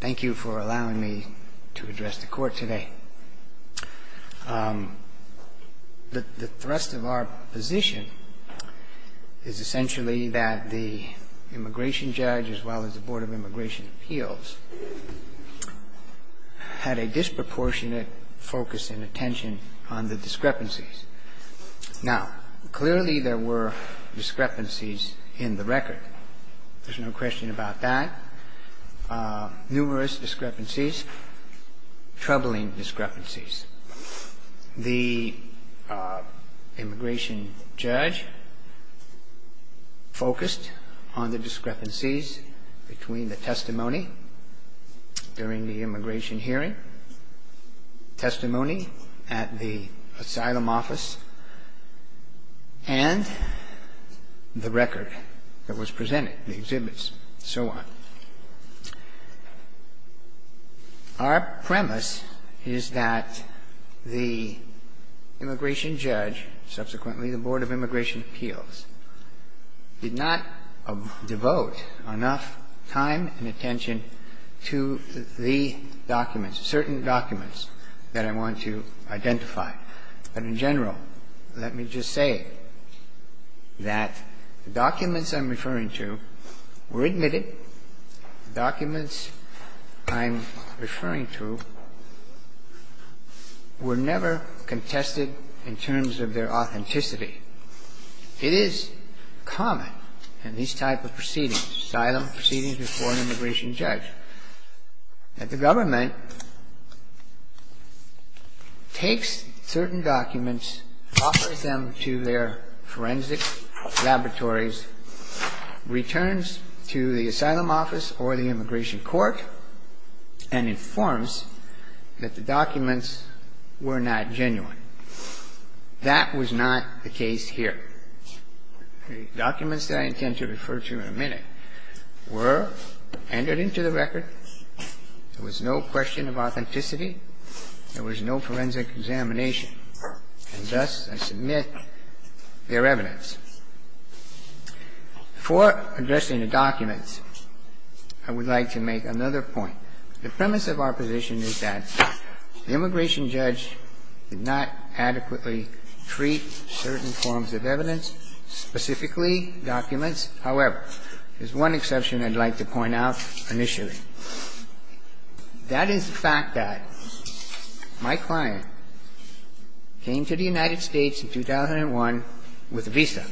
Thank you for allowing me to address the Court today. The thrust of our position is essentially that the immigration judge, as well as the Board of Immigration Appeals, had a disproportionate focus and attention on the discrepancies. Now, clearly there were discrepancies in the record. There's no question about that. Numerous discrepancies, troubling discrepancies. The immigration judge focused on the discrepancies between the testimony during the immigration hearing, testimony at the asylum office, and the record that was presented, the exhibits, and so on. Our premise is that the immigration judge, subsequently the Board of Immigration documents I'm referring to, were never contested in terms of their authenticity. It is common in these type of proceedings, asylum proceedings before an immigration judge, that the government takes certain documents, offers them to their forensic laboratories, returns to the asylum office or the immigration court, and informs that the documents were not genuine. That was not the case here. The documents that I intend to refer to in a minute were entered into the record. There was no question of authenticity. There was no forensic examination. And thus, I submit their evidence. Before addressing the documents, I would like to make another point. The premise of our position is that the immigration judge did not adequately treat certain forms of evidence, specifically documents. However, there's one exception I'd like to point out initially. That is the fact that my client came to the United States in 2001 with a visa,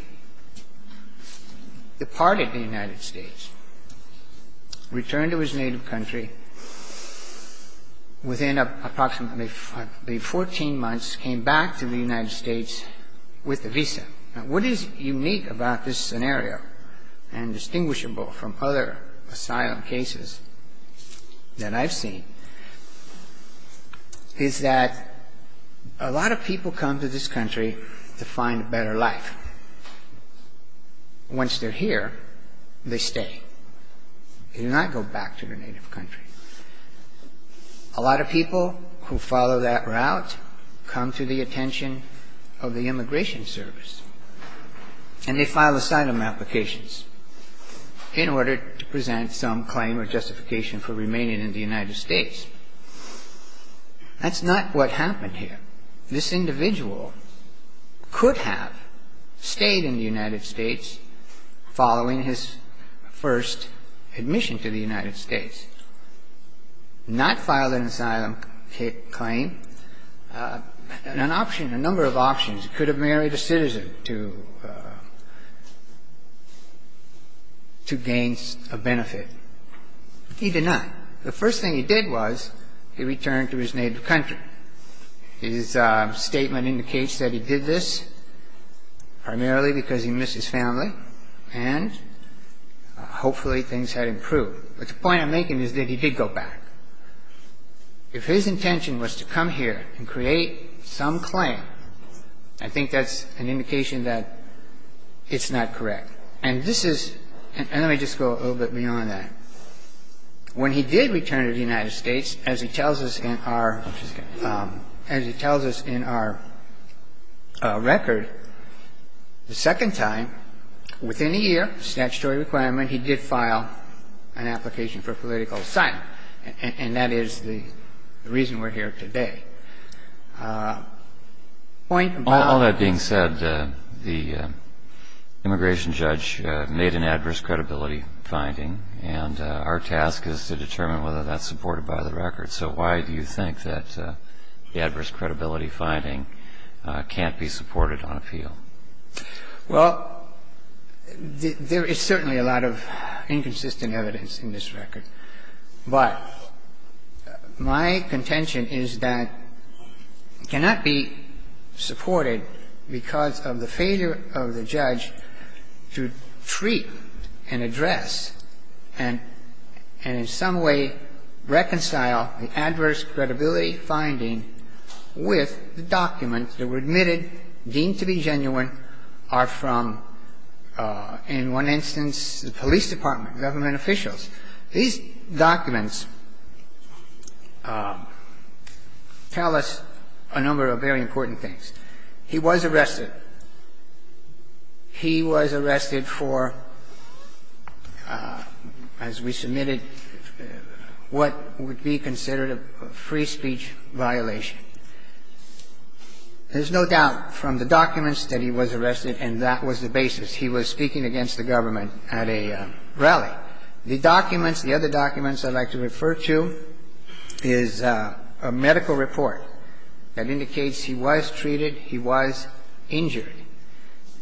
departed the United States, returned to his native country within approximately 14 months, came back to the United States with a visa. What is unique about this scenario and distinguishable from other asylum cases that I've seen is that a lot of people come to this country to find a better life. Once they're here, they stay. They do not go back to their native country. A lot of people who follow that route come to the attention of the immigration service, and they file asylum applications in order to present some claim of justification for remaining in the United States. That's not what happened here. This individual could have stayed in the United States following his first admission to the United States, not filed an asylum claim. In an option, a number of options, he could have married a citizen to gain a benefit. He did not. The first thing he did was he returned to his native country. His statement indicates that he did this primarily because he missed his family, and hopefully things had improved. But the point I'm making is that he did go back. If his intention was to come here and create some claim, I think that's an indication that it's not correct. And this is – and let me just go a little bit beyond that. When he did return to the United States, as he tells us in our – as he tells us in our record, the second time within a year, statutory requirement, he did file an application for political asylum. And that is the reason we're here today. Point about – All that being said, the immigration judge made an adverse credibility finding, and our task is to determine whether that's supported by the record. So why do you think that the Well, there is certainly a lot of inconsistent evidence in this record. But my contention is that it cannot be supported because of the failure of the judge to treat and address and in some way reconcile the adverse credibility finding with the documents deemed to be genuine are from, in one instance, the police department, government officials. These documents tell us a number of very important things. He was arrested. He was arrested for, as we submitted, what would be considered a free speech violation. There's no doubt from the documents that he was arrested, and that was the basis. He was speaking against the government at a rally. The documents – the other documents I'd like to refer to is a medical report that indicates he was treated, he was injured.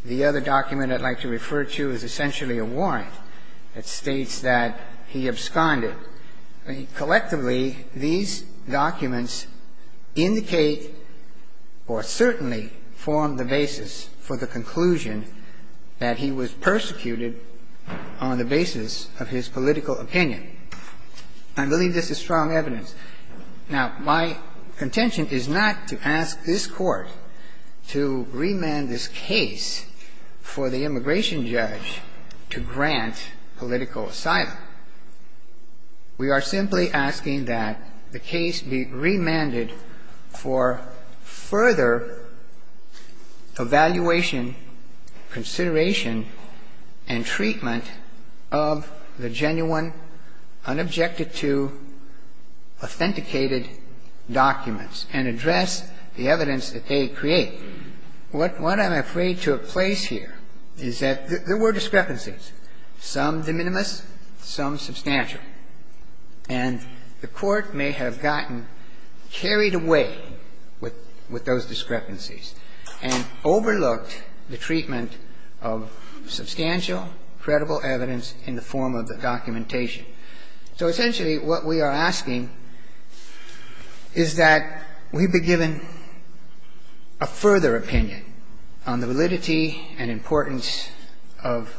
The other document I'd like to refer to is essentially a warrant that states that he absconded. Collectively, these documents indicate or certainly form the basis for the conclusion that he was persecuted on the basis of his political opinion. I believe this is strong evidence. Now, my contention is not to ask this Court to remand this case for the immigration judge to grant political asylum. We are simply asking that the case be remanded for further evaluation, consideration, and treatment of the genuine, unobjected to, authenticated documents and address the evidence that they create. What I'm afraid took place here is that there were discrepancies, some de minimis, some substantial. And the Court may have gotten carried away with those discrepancies and overlooked the treatment of substantial, credible evidence in the form of the documentation. So essentially what we are asking is that we be given a further opinion on the validity and importance of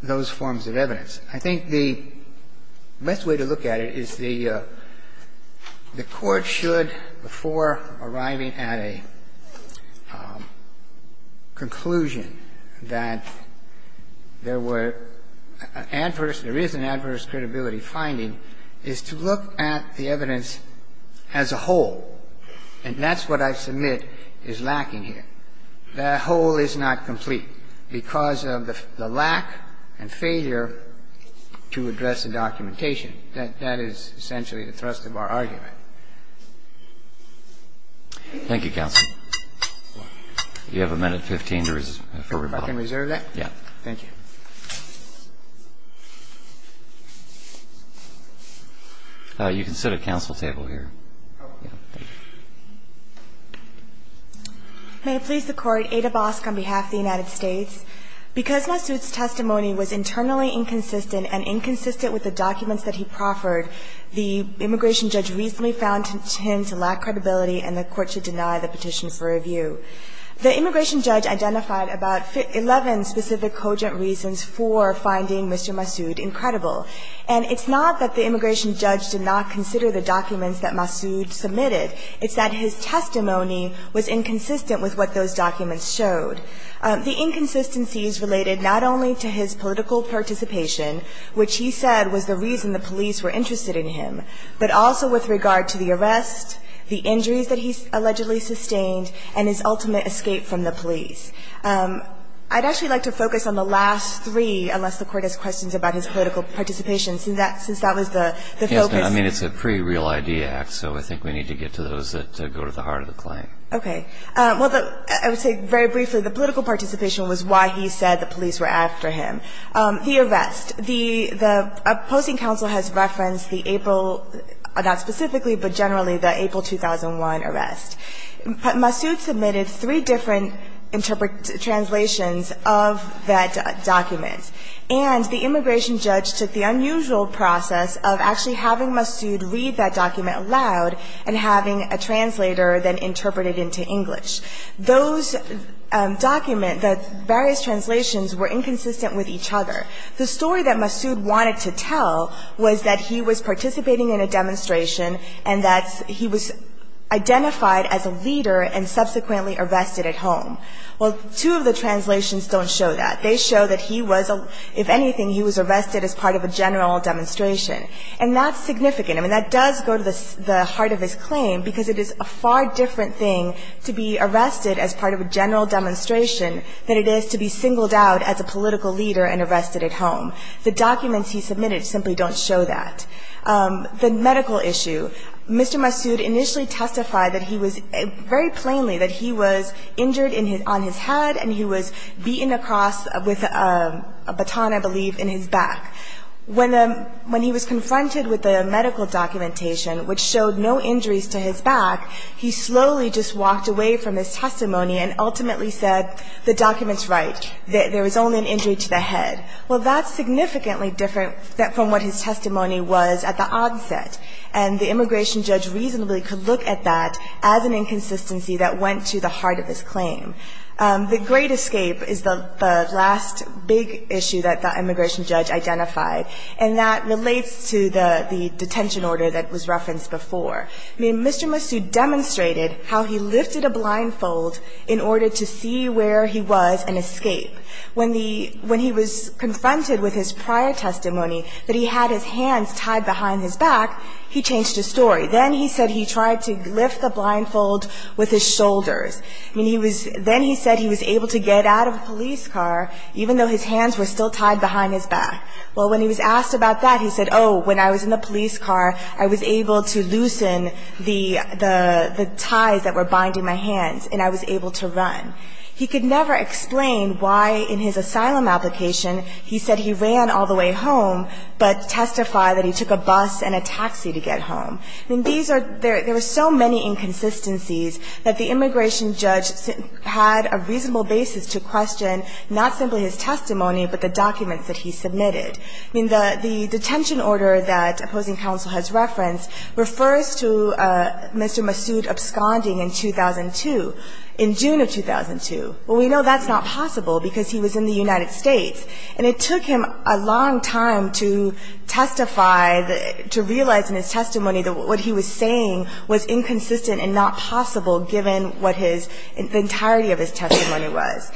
those forms of evidence. I think the best way to look at it is the Court should, before arriving at a conclusion that there were adverse, there is an adverse credibility finding, is to look at the whole is not complete because of the lack and failure to address the documentation. That is essentially the thrust of our argument. Thank you, counsel. You have a minute and 15 to reserve. Can I reserve that? Yes. Thank you. You can sit at counsel's table here. May it please the Court. Ada Bosk on behalf of the United States. Because Massoud's testimony was internally inconsistent and inconsistent with the documents that he proffered, the immigration judge recently found him to lack credibility and the Court to deny the petition for review. The immigration judge identified about 11 specific cogent reasons for finding Mr. Massoud incredible. And it's not that the immigration judge did not consider the documents that Massoud submitted. It's that his testimony was inconsistent with what those documents showed. The inconsistencies related not only to his political participation, which he said was the reason the police were interested in him, but also with regard to the arrest, the injuries that he allegedly sustained, and his ultimate escape from the police. I'd actually like to focus on the last three, unless the Court has questions about his political participation, since that was the focus. I mean, it's a pre-Real Idea Act, so I think we need to get to those that go to the heart of the claim. Okay. Well, I would say very briefly, the political participation was why he said the police were after him. The arrest. The opposing counsel has referenced the April, not specifically, but generally, the April 2001 arrest. Massoud submitted three different translations of that document. And the immigration judge took the unusual process of actually having Massoud read that document aloud and having a translator then interpret it into English. Those documents, the various translations, were inconsistent with each other. The story that Massoud wanted to tell was that he was participating in a demonstration and that he was identified as a leader and subsequently arrested at home. Well, two of the translations don't show that. They show that he was, if anything, he was arrested as part of a general demonstration. And that's significant. I mean, that does go to the heart of his claim, because it is a far different thing to be arrested as part of a general demonstration than it is to be singled out as a political leader and arrested at home. The documents he submitted simply don't show that. The medical issue. Mr. Massoud initially testified that he was, very plainly, that he was injured on his head and he was beaten across with a baton, I believe, in his back. When he was confronted with the medical documentation, which showed no injuries to his back, he slowly just walked away from his testimony and ultimately said, the document's right. There was only an injury to the head. Well, that's significantly different from what his testimony was at the onset. And the immigration judge reasonably could look at that as an inconsistency that went to the heart of his claim. The great escape is the last big issue that the immigration judge identified, and that relates to the detention order that was referenced before. I mean, Mr. Massoud demonstrated how he lifted a blindfold in order to see where he was and escape. When he was confronted with his prior testimony that he had his hands tied behind his back, he changed his story. Then he said he tried to lift the blindfold with his shoulders. Then he said he was able to get out of a police car, even though his hands were still tied behind his back. Well, when he was asked about that, he said, oh, when I was in the police car, I was able to loosen the ties that were binding my hands and I was able to run. He could never explain why in his asylum application he said he ran all the way home, but testified that he took a bus and a taxi to get home. I mean, these are – there were so many inconsistencies that the immigration judge had a reasonable basis to question not simply his testimony, but the documents that he submitted. I mean, the detention order that opposing counsel has referenced refers to Mr. Massoud absconding in 2002, in June of 2002. Well, we know that's not possible because he was in the United States, and it took him a long time to testify, to realize in his testimony that what he was saying was inconsistent and not possible, given what his – the entirety of his testimony was.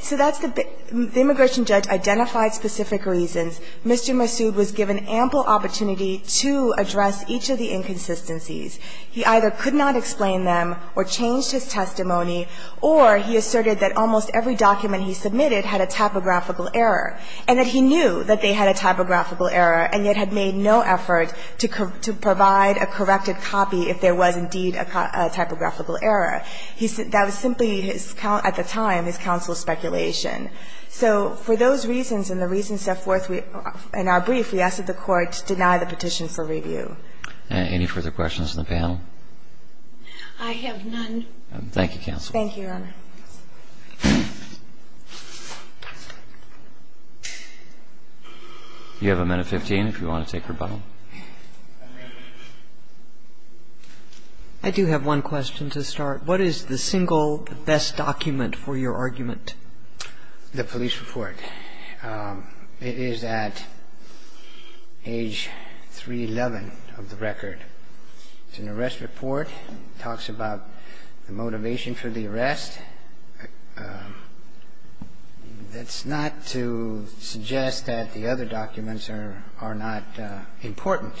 So that's the – the immigration judge identified specific reasons. Mr. Massoud was given ample opportunity to address each of the inconsistencies. He either could not explain them or change his testimony, or he asserted that almost every document he submitted had a typographical error, and that he knew that they had a typographical error and yet had made no effort to provide a corrected copy if there was indeed a typographical error. That was simply his – at the time, his counsel's speculation. So for those reasons and the reasons set forth in our brief, we asked that the Court deny the petition for review. Any further questions on the panel? I have none. Thank you, counsel. Thank you, Your Honor. You have a minute, 15, if you want to take rebuttal. I do have one question to start. What is the single best document for your argument? The police report. It is at age 311 of the record. It's an arrest report. It talks about the motivation for the arrest. That's not to suggest that the other documents are not important,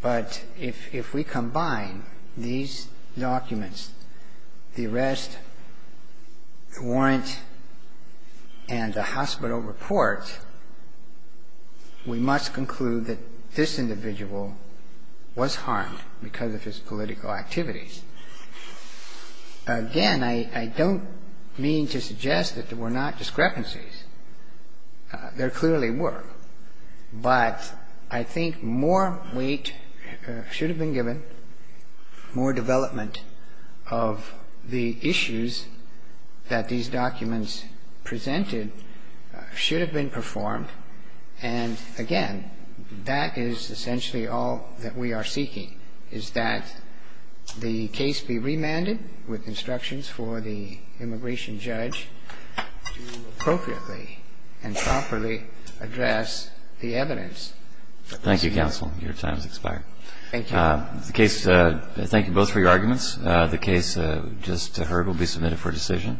but if we combine these documents, the arrest, the warrant, and the hospital report, we must conclude that this individual was harmed because of his political activities. Again, I don't mean to suggest that there were not discrepancies. There clearly were. But I think more weight should have been given, more development of the issues that these documents presented should have been performed. And again, that is essentially all that we are seeking, is that the case be remanded with instructions for the immigration judge to appropriately and properly address the evidence. Thank you, counsel. Your time has expired. Thank you. Thank you both for your arguments. The case just heard will be submitted for decision.